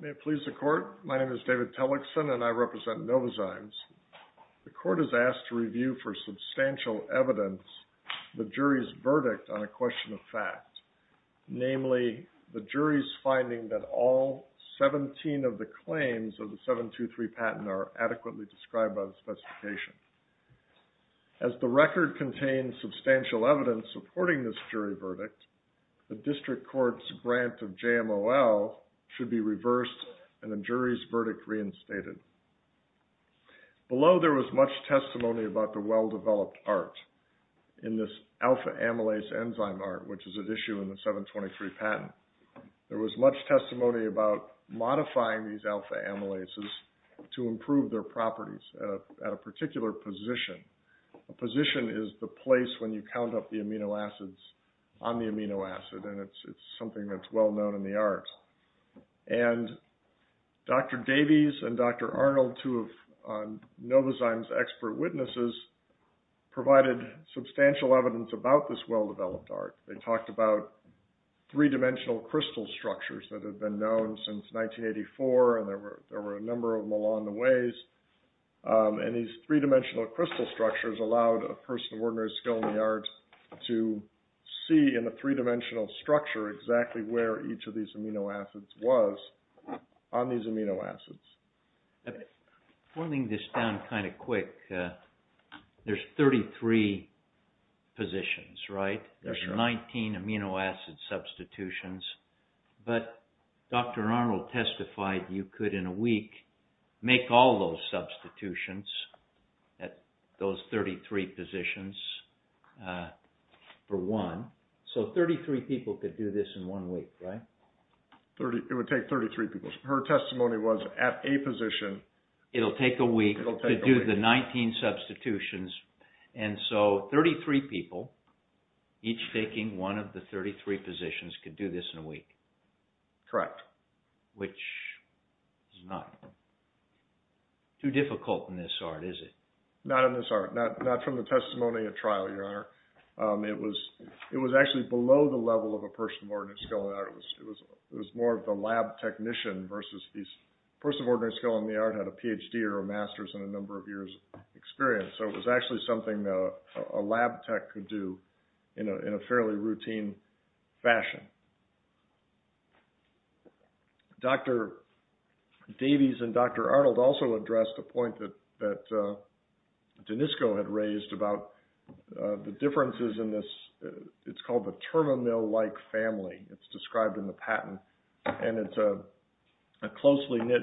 May it please the court, my name is David Tellickson and I represent NOVOZYMES. The court is asked to review for substantial evidence the jury's verdict on a question of fact, namely, the jury's finding that all 17 of the claims of the 723 patent are adequately described by the specification. As the record contains substantial evidence supporting this jury verdict, the district court's grant of JMOL should be reversed and the jury's verdict reinstated. Below there was much testimony about the well-developed art in this alpha amylase enzyme art, which is at issue in the 723 patent. There was much testimony about modifying these alpha amylases to improve their properties at a particular position. A position is the place when you count up the amino acids on the amino acid and it's something that's well known in the arts. And Dr. Davies and Dr. Arnold, two of NOVOZYMES' expert witnesses, provided substantial evidence about this well-developed art. They talked about three-dimensional crystal structures that have been known since 1984 and there were a number of them along the ways. And these three-dimensional crystal structures allowed a person of ordinary skill in the arts to see in the three-dimensional structure exactly where each of these amino acids was on these amino acids. Forming this down kind of quick, there's 33 positions, right? There's 19 amino acid substitutions, but Dr. Arnold testified you could in a week make all those substitutions at those 33 positions for one. So 33 people could do this in one week, right? It would take 33 people. Her testimony was at a position... It'll take a week to do the 19 substitutions. And so 33 people, each taking one of the 33 positions, could do this in a week. Correct. Which is not too difficult in this art, is it? Not in this art. Not from the testimony at trial, Your Honor. It was more of the lab technician versus these... A person of ordinary skill in the art had a PhD or a master's and a number of years of experience. So it was actually something that a lab tech could do in a fairly routine fashion. Dr. Davies and Dr. Arnold also addressed a point that Denisco had raised about the differences in this... It's called the terminal-like family. It's described in the patent, and it's a closely knit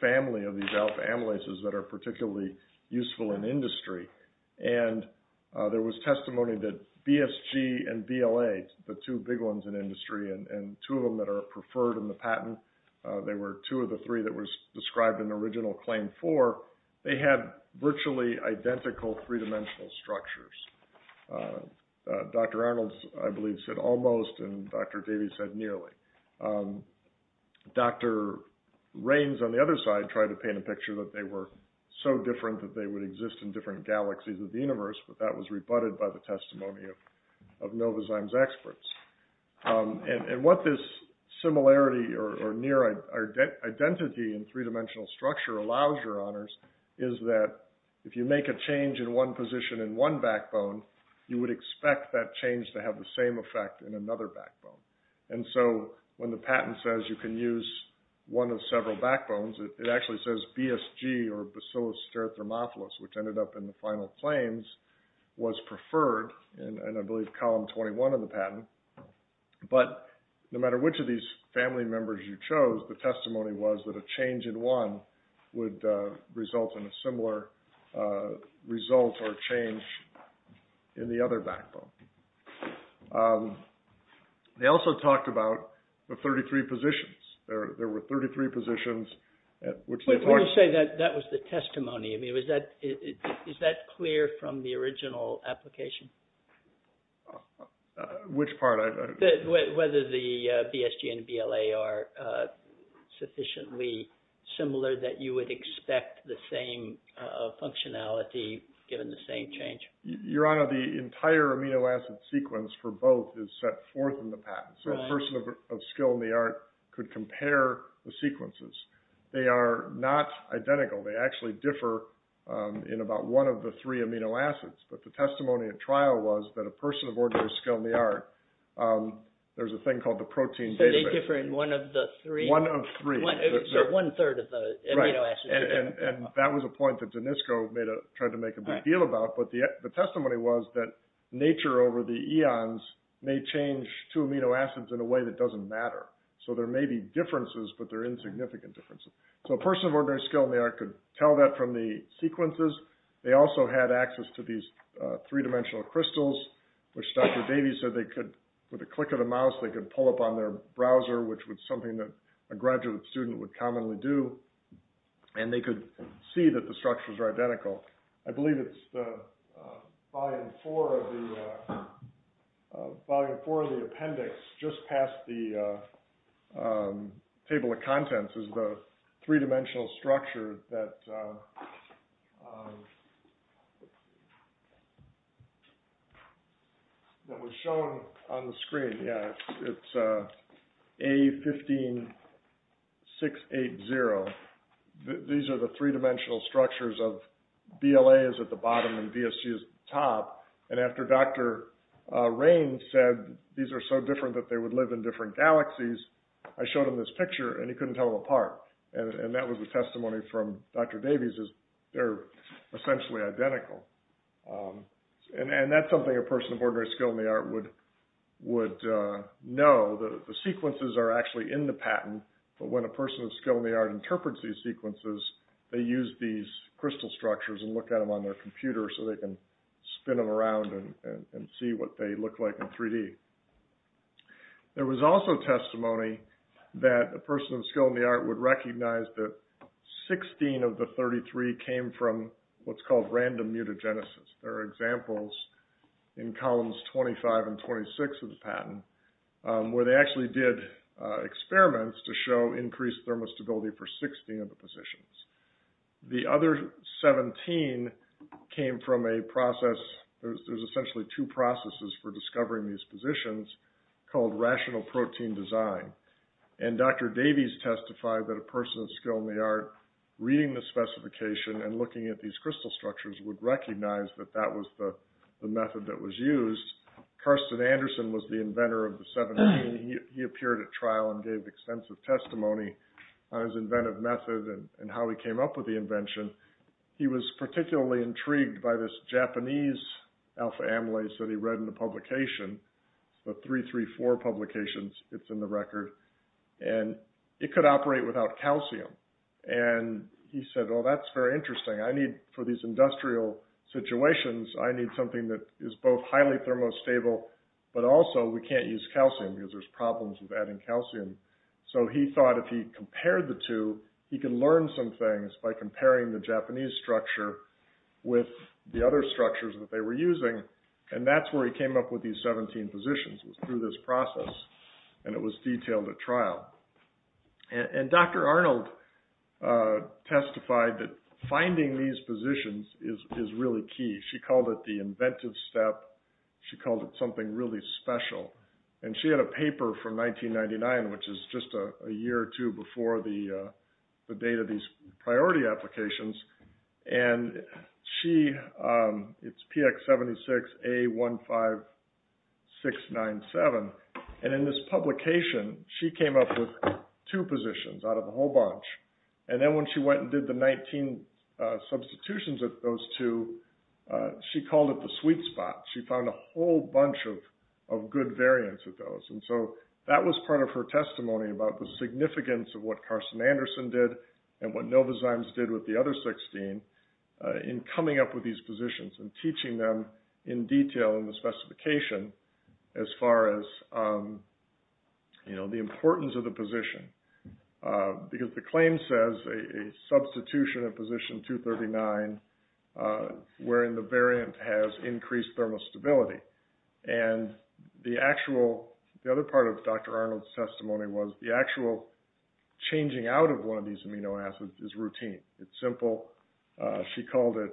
family of these alpha-amylases that are particularly useful in industry. And there was testimony that BSG and BLA, the two big ones in industry, and two of them that are preferred in the patent, they were two of the three that was described in the original claim four, they had virtually identical three-dimensional structures. Dr. Arnold, I believe, said almost, and Dr. Davies said nearly. Dr. Raines, on the other side, tried to paint a picture that they were so different that they would exist in different galaxies of the universe, but that was rebutted by the testimony of Novozyme's experts. And what this similarity or near identity in three-dimensional structure allows, Your would expect that change to have the same effect in another backbone. And so when the patent says you can use one of several backbones, it actually says BSG or Bacillus Stereothermophilus, which ended up in the final claims, was preferred in, I believe, column 21 of the patent. But no matter which of these family members you chose, the testimony was that a change in one would result in a similar result or change in the other backbone. They also talked about the 33 positions. There were 33 positions at which they talked. Let's say that that was the testimony. I mean, is that clear from the original application? Which part? Whether the BSG and BLA are sufficiently similar that you would expect the same functionality given the same change? Your Honor, the entire amino acid sequence for both is set forth in the patent. So a person of skill in the art could compare the sequences. They are not identical. They actually differ in about one of the three amino acids. But the testimony at trial was that a person of ordinary skill in the art, there's a thing called the protein database. So they differ in one of the three? One of three. So one third of the amino acids. And that was a point that Danisco tried to make a big deal about. But the testimony was that nature over the eons may change two amino acids in a way that doesn't matter. So there may be differences, but they're insignificant differences. So a person of ordinary skill in the art could tell that from the sequences. They also had access to these three-dimensional crystals, which Dr. Davies said they could, with a click of the mouse, they could pull up on their browser, which was something that a graduate student would commonly do. And they could see that the structures are identical. I believe it's volume four of the appendix just past the table of contents is the three-dimensional structure that was shown on the screen. Yeah, it's A15680. These are the three-dimensional structures of BLA is at the bottom and BSU is top. And after Dr. Raines said these are so different that they would live in different galaxies, I showed him this picture and he couldn't tell them apart. And that was the testimony from Dr. Davies is they're essentially identical. And that's something a person of ordinary skill in the art would know, the sequences are actually in the patent. But when a person of skill in the art interprets these sequences, they use these crystal structures and look at them on their computer so they can spin them around and see what they look like in 3D. There was also testimony that a person of skill in the art would recognize that 16 of the 33 came from what's called random mutagenesis. There are examples in columns 25 and 26 of the patent where they actually did experiments to show increased thermostability for 16 of the positions. The other 17 came from a process, there's essentially two processes for discovering these positions called rational protein design. And Dr. Davies testified that a person of skill in the art reading the specification and looking at these crystal structures would recognize that that was the method that was used. Karsten Andersen was the inventor of the 17. He appeared at trial and gave extensive testimony on his inventive method and how he came up with the invention. He was particularly intrigued by this Japanese alpha amylase that he read in the publication, the 334 publications, it's in the record. And it could operate without calcium. And he said, well, that's very interesting. I need for these industrial situations, I need something that is both highly thermostable, but also we can't use calcium because there's problems with adding calcium. So he thought if he compared the two, he can learn some things by comparing the Japanese structure with the other structures that they were using. And that's where he came up with these 17 positions was through this process. And it was detailed at trial. And Dr. Arnold testified that finding these positions is really key. She called it the inventive step. She called it something really special. And she had a paper from 1999, which is just a year or two before the date of these priority applications. And it's PX76A15697. And in this publication, she came up with two positions out of a whole bunch. And then when she went and did the 19 substitutions of those two, she called it the sweet spot. She found a whole bunch of good variants of those. And so that was part of her testimony about the significance of what Carson Anderson did and what Nova Zymes did with the other 16 in coming up with these positions and teaching them in detail in the specification as far as the importance of the position. Because the claim says a substitution of position 239, wherein the variant has increased thermostability. And the actual, the other part of Dr. Arnold's testimony was the actual changing out of one of these amino acids is routine. It's simple. She called it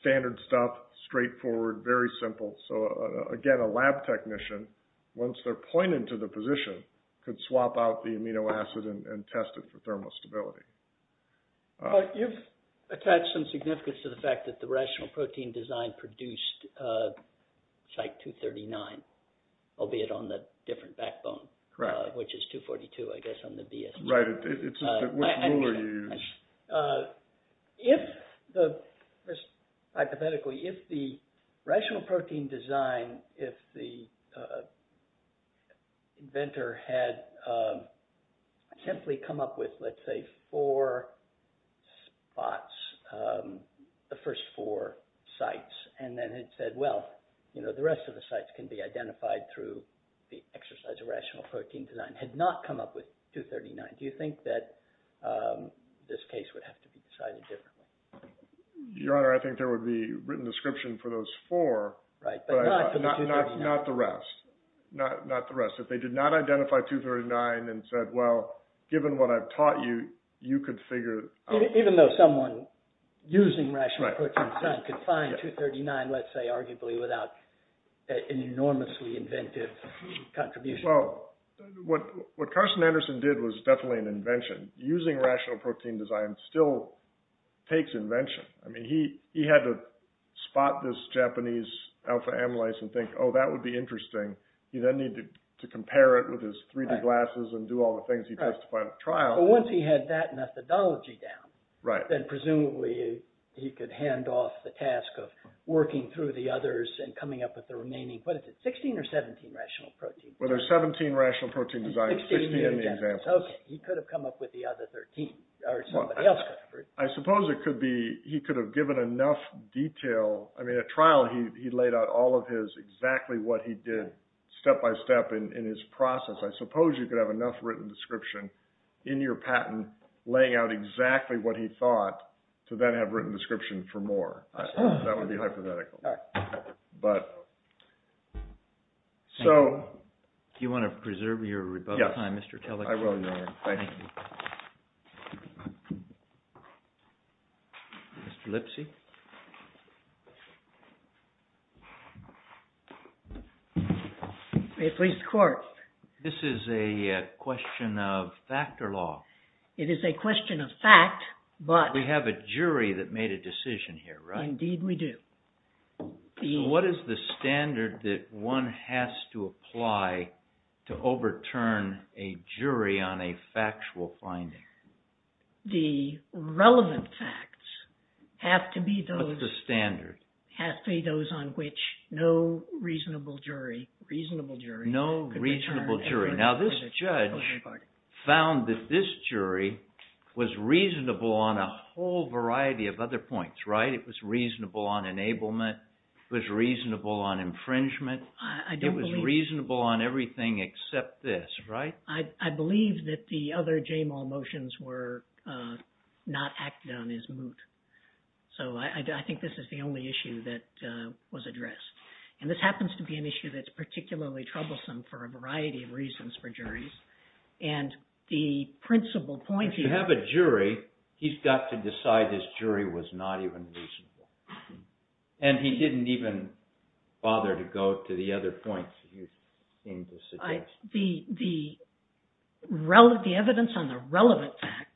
standard stuff, straightforward, very simple. So again, a lab technician, once they're pointed to the position, could swap out the amino acid and test it for thermostability. You've attached some significance to the fact that the rational protein design produced site 239, albeit on the different backbone, which is 242, I guess, on the DSP. Right. It's just which ruler you use. If the, hypothetically, if the rational protein design, if the inventor had simply come up with, let's say, four spots, the first four sites, and then had said, well, the rest of the sites can be identified through the exercise of rational protein design, had not come up with 239. Do you think that this case would have to be decided differently? Your Honor, I think there would be written description for those four, but not the rest. Not the rest. If they did not identify 239 and said, well, given what I've taught you, you could figure it out. Even though someone using rational protein design could find 239, let's say, arguably without an enormously inventive contribution. Well, what Carson Anderson did was definitely an invention. Using rational protein design still takes invention. I mean, he had to spot this Japanese alpha amylase and think, oh, that would be interesting. He then needed to compare it with his 3D glasses and do all the things he does to find a trial. But once he had that methodology down, then presumably he could hand off the task of working through the others and coming up with the remaining, what is it, 16 or 17 rational protein designs? Well, there's 17 rational protein designs, 16 in the examples. OK. He could have come up with the other 13 or somebody else could have. I suppose it could be he could have given enough detail. I mean, at trial, he laid out all of his exactly what he did step by step in his process. I suppose you could have enough written description in your patent laying out exactly what he thought to then have written description for more. That would be hypothetical. All right. But. So. Do you want to preserve your time, Mr. Kellogg? I will. Mr. Lipsy. May it please the court. This is a question of fact or law. It is a question of fact, but. We have a jury that made a decision here, right? Indeed, we do. What is the standard that one has to apply to overturn a jury on a factual finding? The relevant facts have to be those. What's the standard? Have to be those on which no reasonable jury. Reasonable jury. No reasonable jury. Now, this judge found that this jury was reasonable on a whole variety of other points, right? It was reasonable on enablement. It was reasonable on infringement. I don't believe. It was reasonable on everything except this, right? I believe that the other JMOL motions were not acted on as moot. So I think this is the only issue that was addressed. And this happens to be an issue that's particularly troublesome for a variety of reasons for juries. And the principal point. If you have a jury, he's got to decide this jury was not even reasonable. And he didn't even bother to go to the other points you came to suggest. The evidence on the relevant facts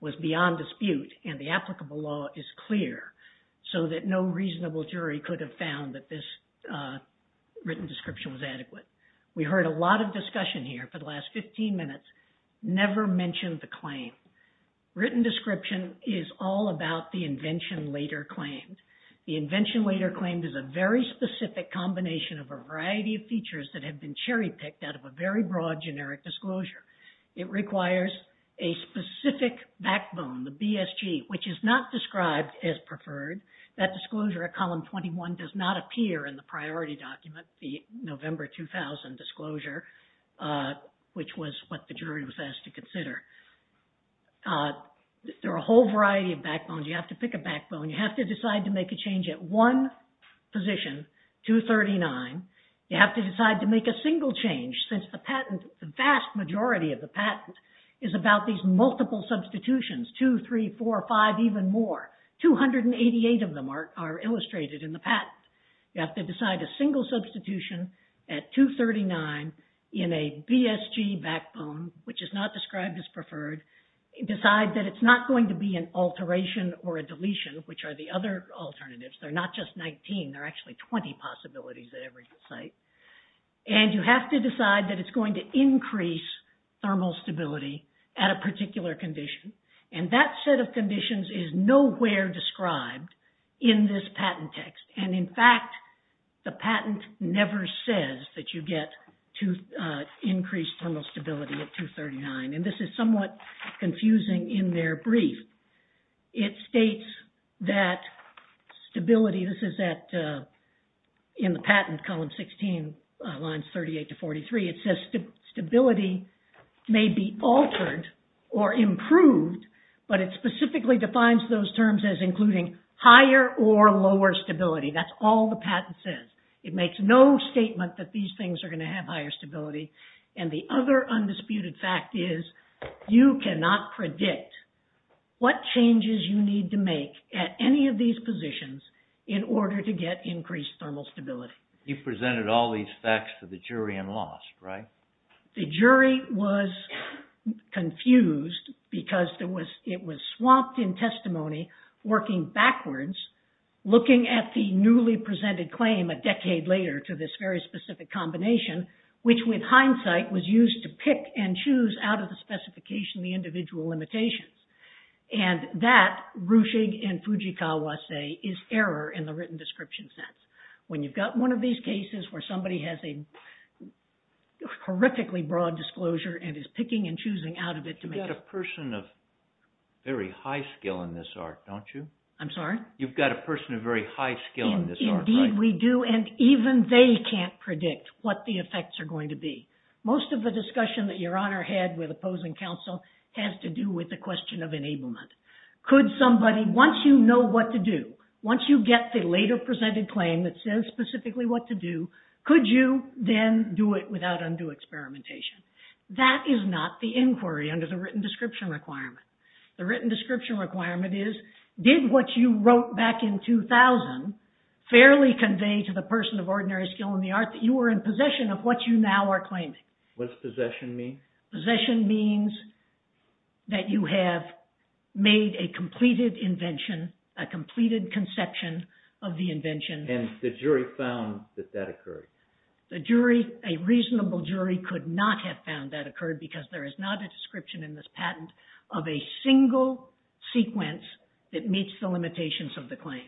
was beyond dispute and the applicable law is clear so that no reasonable jury could have found that this written description was adequate. We heard a lot of discussion here for the last 15 minutes. Never mentioned the claim. Written description is all about the invention later claimed. The invention later claimed is a very specific combination of a variety of features that have been cherry picked out of a very broad generic disclosure. It requires a specific backbone, the BSG, which is not described as preferred. That disclosure at column 21 does not appear in the priority document, the November 2000 disclosure, which was what the jury was asked to consider. There are a whole variety of backbones. You have to pick a backbone. You have to decide to make a change at one position, 239. You have to decide to make a single change since the patent, the vast majority of the patent is about these multiple substitutions, 2, 3, 4, 5, even more. 288 of them are illustrated in the patent. You have to decide a single substitution at 239 in a BSG backbone, which is not described as preferred. Decide that it's not going to be an alteration or a deletion, which are the other alternatives. They're not just 19. There are actually 20 possibilities at every site. And you have to decide that it's going to increase thermal stability at a particular condition. And that set of conditions is nowhere described in this patent text. And in fact, the patent never says that you get increased thermal stability at 239. And this is somewhat confusing in their brief. It states that stability, this is in the patent, column 16, lines 38 to 43. It says stability may be altered or improved, but it specifically defines those terms as including higher or lower stability. That's all the patent says. It makes no statement that these things are going to have higher stability. And the other undisputed fact is you cannot predict what changes you need to make at any of these positions in order to get increased thermal stability. You presented all these facts to the jury and lost, right? The jury was confused because it was swamped in testimony, working backwards, looking at the newly presented claim a decade later to this very specific combination, which with hindsight was used to pick and choose out of the specification the individual limitations. And that, Ruchig and Fujikawa say, is error in the written description sense. When you've got one of these cases where somebody has a horrifically broad disclosure and is picking and choosing out of it to make... You've got a person of very high skill in this art, don't you? I'm sorry? You've got a person of very high skill in this art, right? Indeed we do, and even they can't predict what the effects are going to be. Most of the discussion that Your Honor had with opposing counsel has to do with the question of enablement. Could somebody, once you know what to do, once you get the later presented claim that says specifically what to do, could you then do it without undue experimentation? That is not the inquiry under the written description requirement. The written description requirement is, did what you wrote back in 2000 fairly convey to the person of ordinary skill in the art that you were in possession of what you now are claiming? What's possession mean? Possession means that you have made a completed invention, a completed conception of the invention. And the jury found that that occurred. A reasonable jury could not have found that occurred because there is not a description in this patent of a single sequence that meets the limitations of the claim.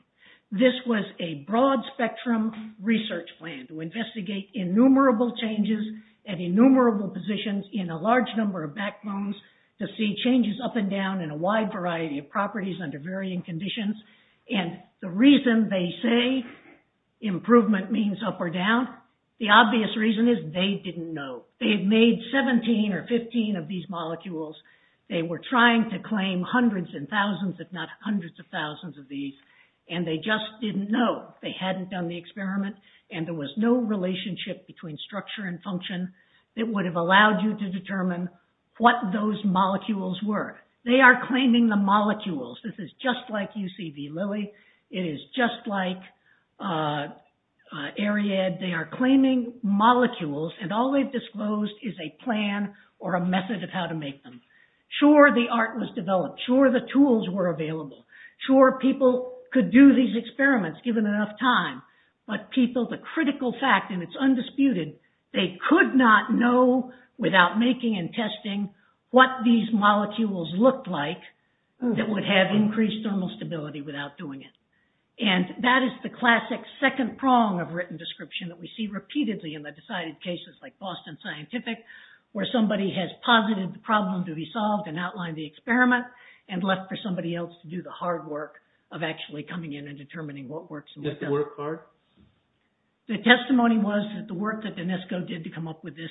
This was a broad spectrum research plan to investigate innumerable changes and innumerable positions in a large number of backbones to see changes up and down in a wide variety of properties under varying conditions. And the reason they say improvement means up or down, the obvious reason is they didn't know. They had made 17 or 15 of these molecules. They were trying to claim hundreds and thousands, if not hundreds of thousands of these, and they just didn't know. They hadn't done the experiment and there was no relationship between structure and determine what those molecules were. They are claiming the molecules. This is just like UCD Lilly. It is just like ARIAD. They are claiming molecules and all they've disclosed is a plan or a method of how to make them. Sure, the art was developed. Sure, the tools were available. Sure, people could do these experiments given enough time. But people, the critical fact, and it's undisputed, they could not know without making and testing what these molecules looked like that would have increased thermal stability without doing it. And that is the classic second prong of written description that we see repeatedly in the decided cases like Boston Scientific where somebody has posited the problem to be solved and outlined the experiment and left for somebody else to do the hard work of actually coming in and determining what works and what doesn't. Is that the work part? The testimony was that the work that D'Anesco did to come up with this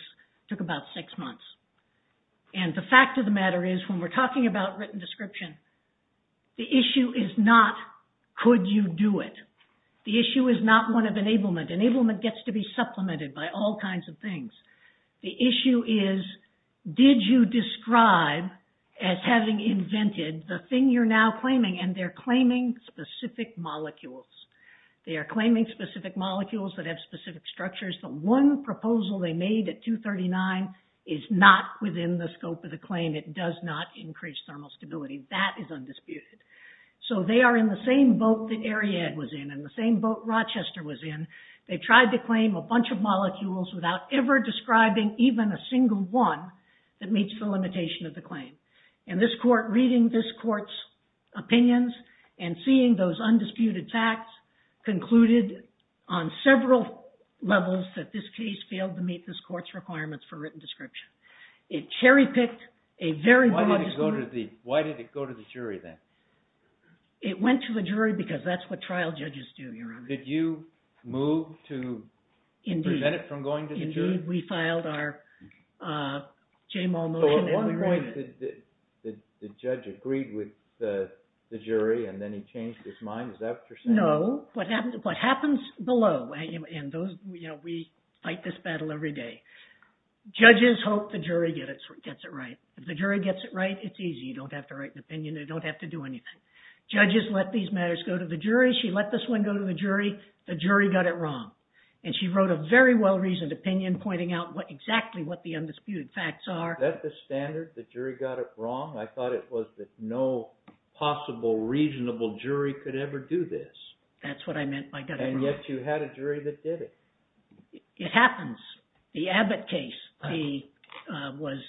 took about six months. And the fact of the matter is, when we're talking about written description, the issue is not could you do it. The issue is not one of enablement. Enablement gets to be supplemented by all kinds of things. The issue is did you describe as having invented the thing you're now claiming and they're claiming specific molecules. They are claiming specific molecules that have specific structures. The one proposal they made at 239 is not within the scope of the claim. It does not increase thermal stability. That is undisputed. So they are in the same boat that Ariadne was in and the same boat Rochester was in. They tried to claim a bunch of molecules without ever describing even a single one that meets the limitation of the claim. And this court, reading this court's opinions and seeing those undisputed facts, concluded on several levels that this case failed to meet this court's requirements for written description. It cherry-picked a very broad disclosure. Why did it go to the jury then? It went to the jury because that's what trial judges do, Your Honor. Did you move to prevent it from going to the jury? Indeed. We filed our J-Mal motion. At one point, the judge agreed with the jury and then he changed his mind. Is that what you're saying? No. What happens below, and we fight this battle every day, judges hope the jury gets it right. If the jury gets it right, it's easy. You don't have to write an opinion. They don't have to do anything. Judges let these matters go to the jury. She let this one go to the jury. The jury got it wrong. And she wrote a very well-reasoned opinion pointing out exactly what the undisputed facts are. That's the standard? The jury got it wrong? I thought it was that no possible reasonable jury could ever do this. That's what I meant by got it wrong. And yet you had a jury that did it. It happens. The Abbott case, he was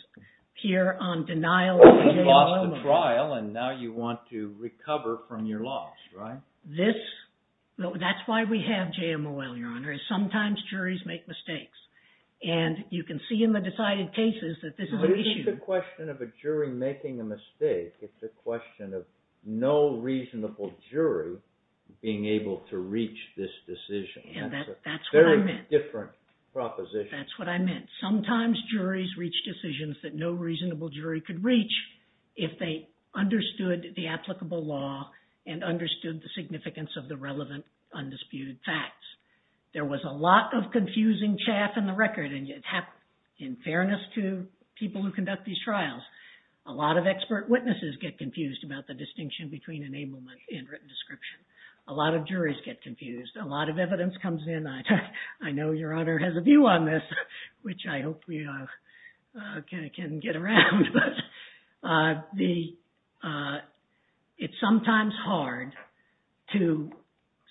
here on denial of the J-M-O-L. You lost the trial and now you want to recover from your loss, right? That's why we have J-M-O-L, Your Honor. Sometimes juries make mistakes. And you can see in the decided cases that this is an issue. But it's not a question of a jury making a mistake. It's a question of no reasonable jury being able to reach this decision. And that's what I meant. Very different proposition. That's what I meant. Sometimes juries reach decisions that no reasonable jury could reach if they understood the applicable law and understood the significance of the relevant undisputed facts. There was a lot of confusing chaff in the record. And in fairness to people who conduct these trials, a lot of expert witnesses get confused about the distinction between enablement and written description. A lot of juries get confused. A lot of evidence comes in. I know Your Honor has a view on this, which I hope we can get around. But it's sometimes hard to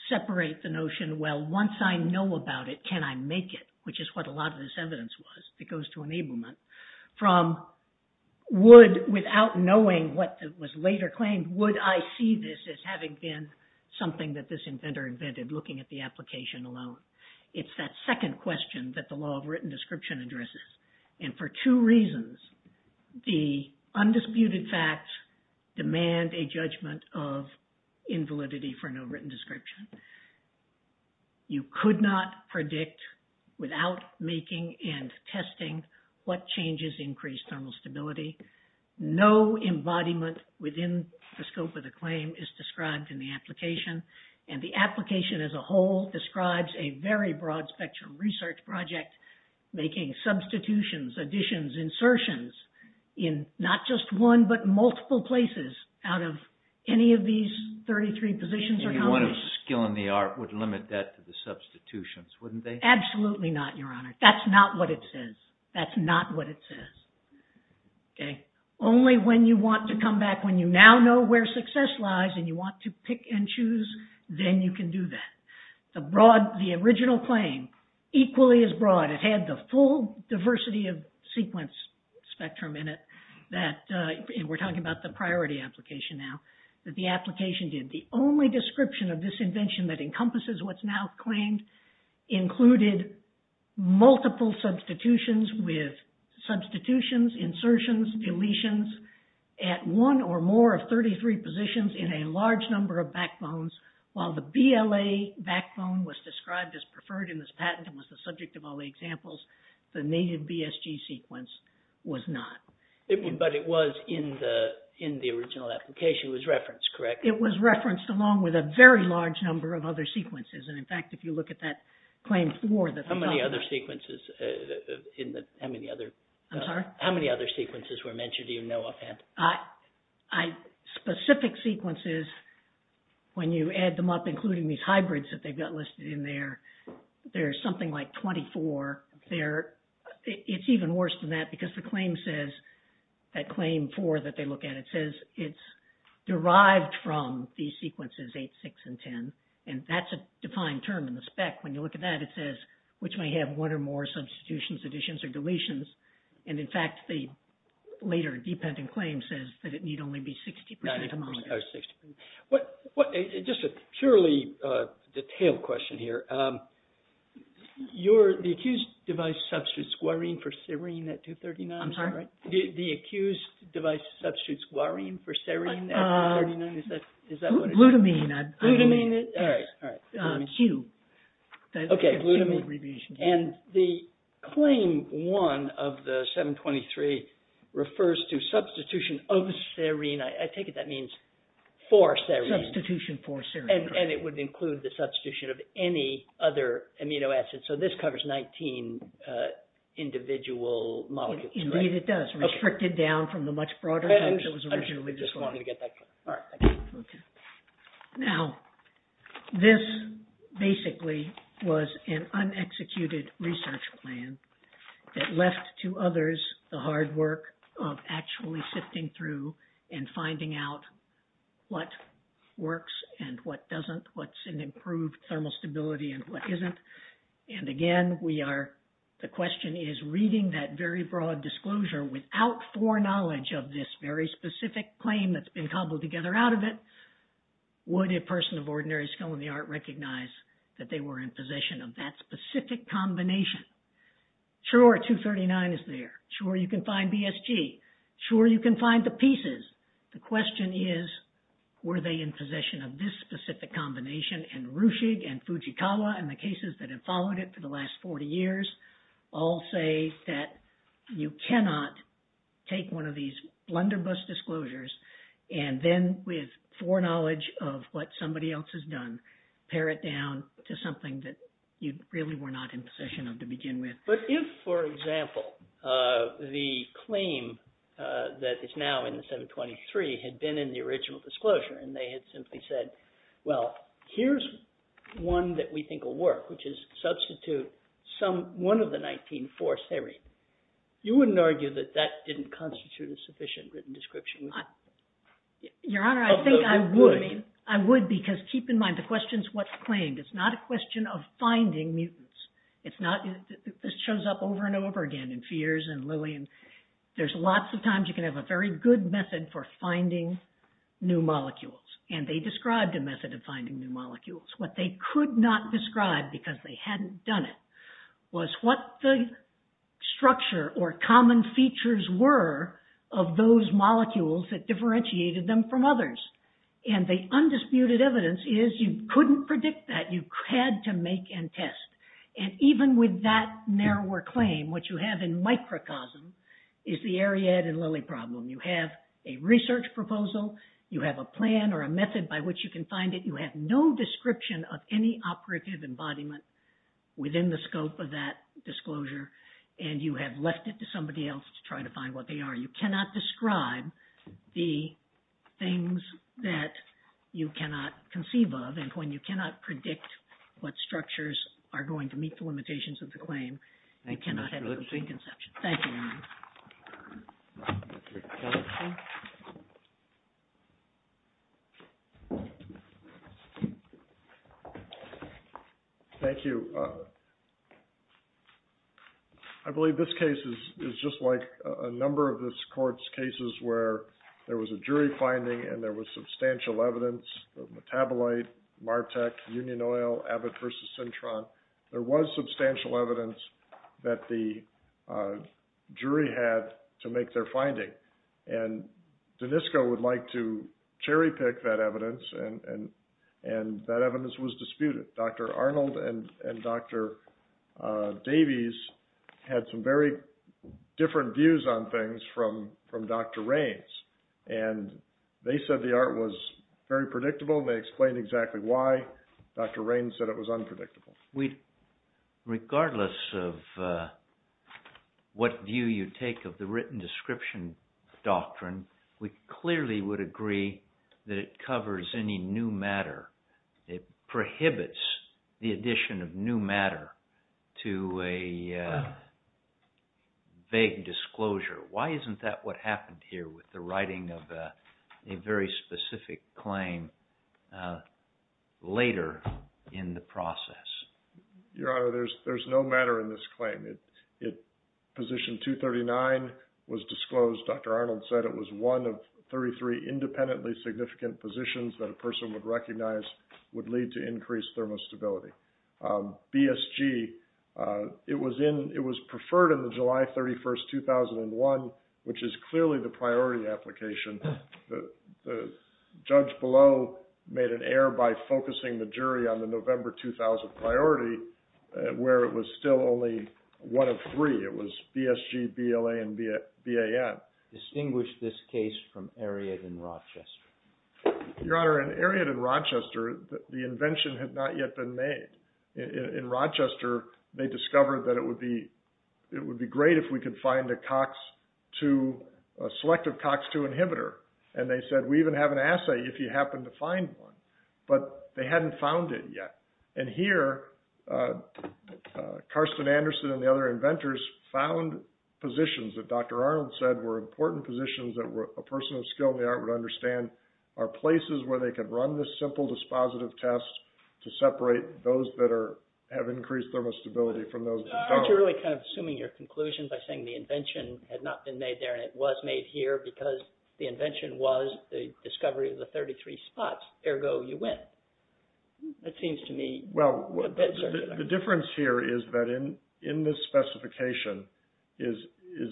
separate the notion, well, once I know about it, can I make it? Which is what a lot of this evidence was. It goes to enablement. From would, without knowing what was later claimed, would I see this as having been something that this inventor invented looking at the application alone? It's that second question that the law of written description addresses. And for two reasons, the undisputed facts demand a judgment of invalidity for no written description. You could not predict without making and testing what changes increase thermal stability. No embodiment within the scope of the claim is described in the application. And the application as a whole describes a very broad spectrum research project, making substitutions, additions, insertions in not just one, but multiple places out of any of these 33 positions. If you wanted skill in the art, would limit that to the substitutions, wouldn't they? Absolutely not, Your Honor. That's not what it says. That's not what it says. Okay. Only when you want to come back, when you now know where success lies and you want to pick and choose, then you can do that. The original claim, equally as broad, it had the full diversity of sequence spectrum in it that, and we're talking about the priority application now, that the application did. The only description of this invention that encompasses what's now claimed included multiple substitutions with substitutions, insertions, deletions at one or more of 33 positions in a large number of backbones. While the BLA backbone was described as preferred in this patent and was the subject of all the examples, the native BSG sequence was not. But it was in the original application. It was referenced, correct? It was referenced along with a very large number of other sequences. And in fact, if you look at that claim for the- How many other sequences in the, how many other- I'm sorry? How many other sequences were mentioned in your NOAA patent? I, specific sequences, when you add them up, including these hybrids that they've got listed in there, there's something like 24 there. It's even worse than that because the claim says, that claim for that they look at, it says it's derived from the sequences 8, 6, and 10. And that's a defined term in the spec. When you look at that, it says, which may have one or more substitutions, additions, or deletions. And in fact, the later dependent claim says that it need only be 60% or more. Just a purely detailed question here. The accused device substitutes guarine for serine at 239? I'm sorry? The accused device substitutes guarine for serine at 239? Is that what it is? Glutamine. Glutamine, all right, all right. Q. Okay, glutamine. And the claim 1 of the 723 refers to substitution of serine. I take it that means for serine. Substitution for serine. And it would include the substitution of any other amino acid. So this covers 19 individual molecules, right? Indeed, it does. Restricted down from the much broader type that was originally described. I just wanted to get that clear. All right, thank you. Okay. Now, this basically was an unexecuted research plan that left to others the hard work of actually sifting through and finding out what works and what doesn't, what's an improved thermal stability and what isn't. And again, the question is reading that very broad disclosure without foreknowledge of this very specific claim that's been cobbled together out of it, would a person of ordinary skill in the art recognize that they were in possession of that specific combination? Sure, 239 is there. Sure, you can find BSG. Sure, you can find the pieces. The question is, were they in possession of this specific combination? And Ruchig and Fujikawa and the cases that have followed it for the last 40 years all say that you cannot take one of these blunderbuss disclosures and then, with foreknowledge of what somebody else has done, pare it down to something that you really were not in possession of to begin with. But if, for example, the claim that is now in the 723 had been in the original disclosure and they had simply said, well, here's one that we think will work, which is substitute one of the 19 for serine, you wouldn't argue that that didn't constitute a sufficient written description? Your Honor, I think I would. I would because keep in mind, the question is what's claimed. It's not a question of finding mutants. It's not, this shows up over and over again in Fears and Lillian. There's lots of times you can have a very good method for finding new molecules. And they described a method of finding new molecules. What they could not describe because they hadn't done it was what the structure or common features were of those molecules that differentiated them from others. And the undisputed evidence is you couldn't predict that. You had to make and test. And even with that narrower claim, what you have in microcosm is the Ariad and Lilly problem. You have a research proposal. You have a plan or a method by which you can find it. You have no description of any operative embodiment within the scope of that disclosure. And you have left it to somebody else to try to find what they are. You cannot describe the things that you cannot conceive of. And when you cannot predict what structures are going to meet the limitations of the claim, they cannot have a preconception. Thank you, Your Honor. Thank you. I believe this case is just like a number of this Court's cases where there was a jury finding and there was substantial evidence of metabolite, MARTEC, Union Oil, Abbott versus Syntron. There was substantial evidence that the jury had to make their finding. And Danisco would like to cherry pick that evidence and that evidence was disputed. Dr. Arnold and Dr. Davies had some very different views on things from Dr. Raines. And they said the art was very predictable. They explained exactly why. Dr. Raines said it was unpredictable. Regardless of what view you take of the written description doctrine, we clearly would agree that it covers any new matter. It prohibits the addition of new matter to a vague disclosure. Why isn't that what happened here with the writing of a very specific claim later in the process? Your Honor, there's no matter in this claim. Position 239 was disclosed. Dr. Arnold said it was one of 33 independently significant positions that a person would recognize would lead to increased thermostability. BSG, it was preferred in the July 31st, 2001, which is clearly the priority application. The judge below made an error by focusing the jury on the November 2000 priority where it was still only one of three. It was BSG, BLA, and BAN. Distinguish this case from Eriot in Rochester. Your Honor, in Eriot in Rochester, the invention had not yet been made. In Rochester, they discovered that it would be great if we could find a COX-2, a selective COX-2 inhibitor. And they said, we even have an assay if you happen to find one. But they hadn't found it yet. And here, Karsten Anderson and the other inventors found positions that Dr. Arnold said were important positions that a person of skill in the art would understand are places where they could run this simple dispositive test to separate those that have increased thermostability from those that don't. Aren't you really kind of assuming your conclusion by saying the invention had not been made there and it was made here because the invention was the discovery of the 33 spots? Ergo, you win. That seems to me... Well, the difference here is that in this specification is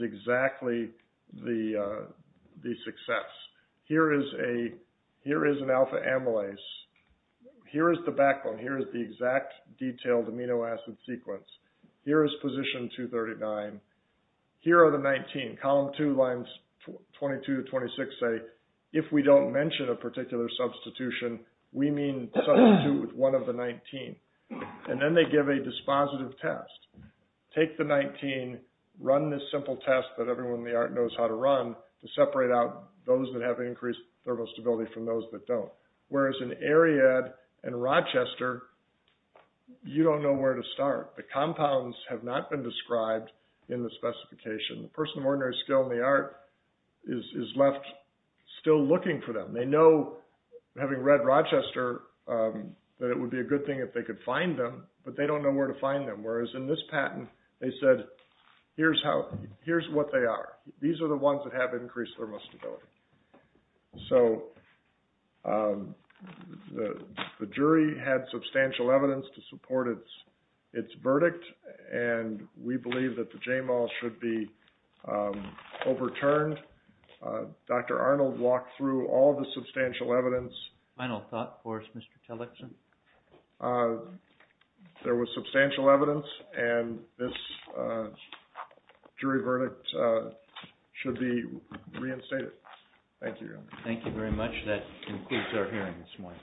exactly the success. Here is an alpha amylase. Here is the backbone. Here is the exact detailed amino acid sequence. Here is position 239. Here are the 19. Column two, lines 22 to 26 say, if we don't mention a particular substitution, we mean substitute with one of the 19. And then they give a dispositive test. Take the 19, run this simple test that everyone in the art knows how to run to separate out those that have increased thermostability from those that don't. Whereas in ARIAD and Rochester, you don't know where to start. The compounds have not been described in the specification. The person of ordinary skill in the art is left still looking for them. They know, having read Rochester, that it would be a good thing if they could find them, but they don't know where to find them. Whereas in this patent, they said, here's what they are. These are the ones that have increased thermostability. So the jury had substantial evidence to support its verdict. And we believe that the JMOL should be overturned. Dr. Arnold walked through all the substantial evidence. Final thought for us, Mr. Tillotson? There was substantial evidence, and this jury verdict should be reinstated. Thank you. Thank you very much. That concludes our hearing this morning.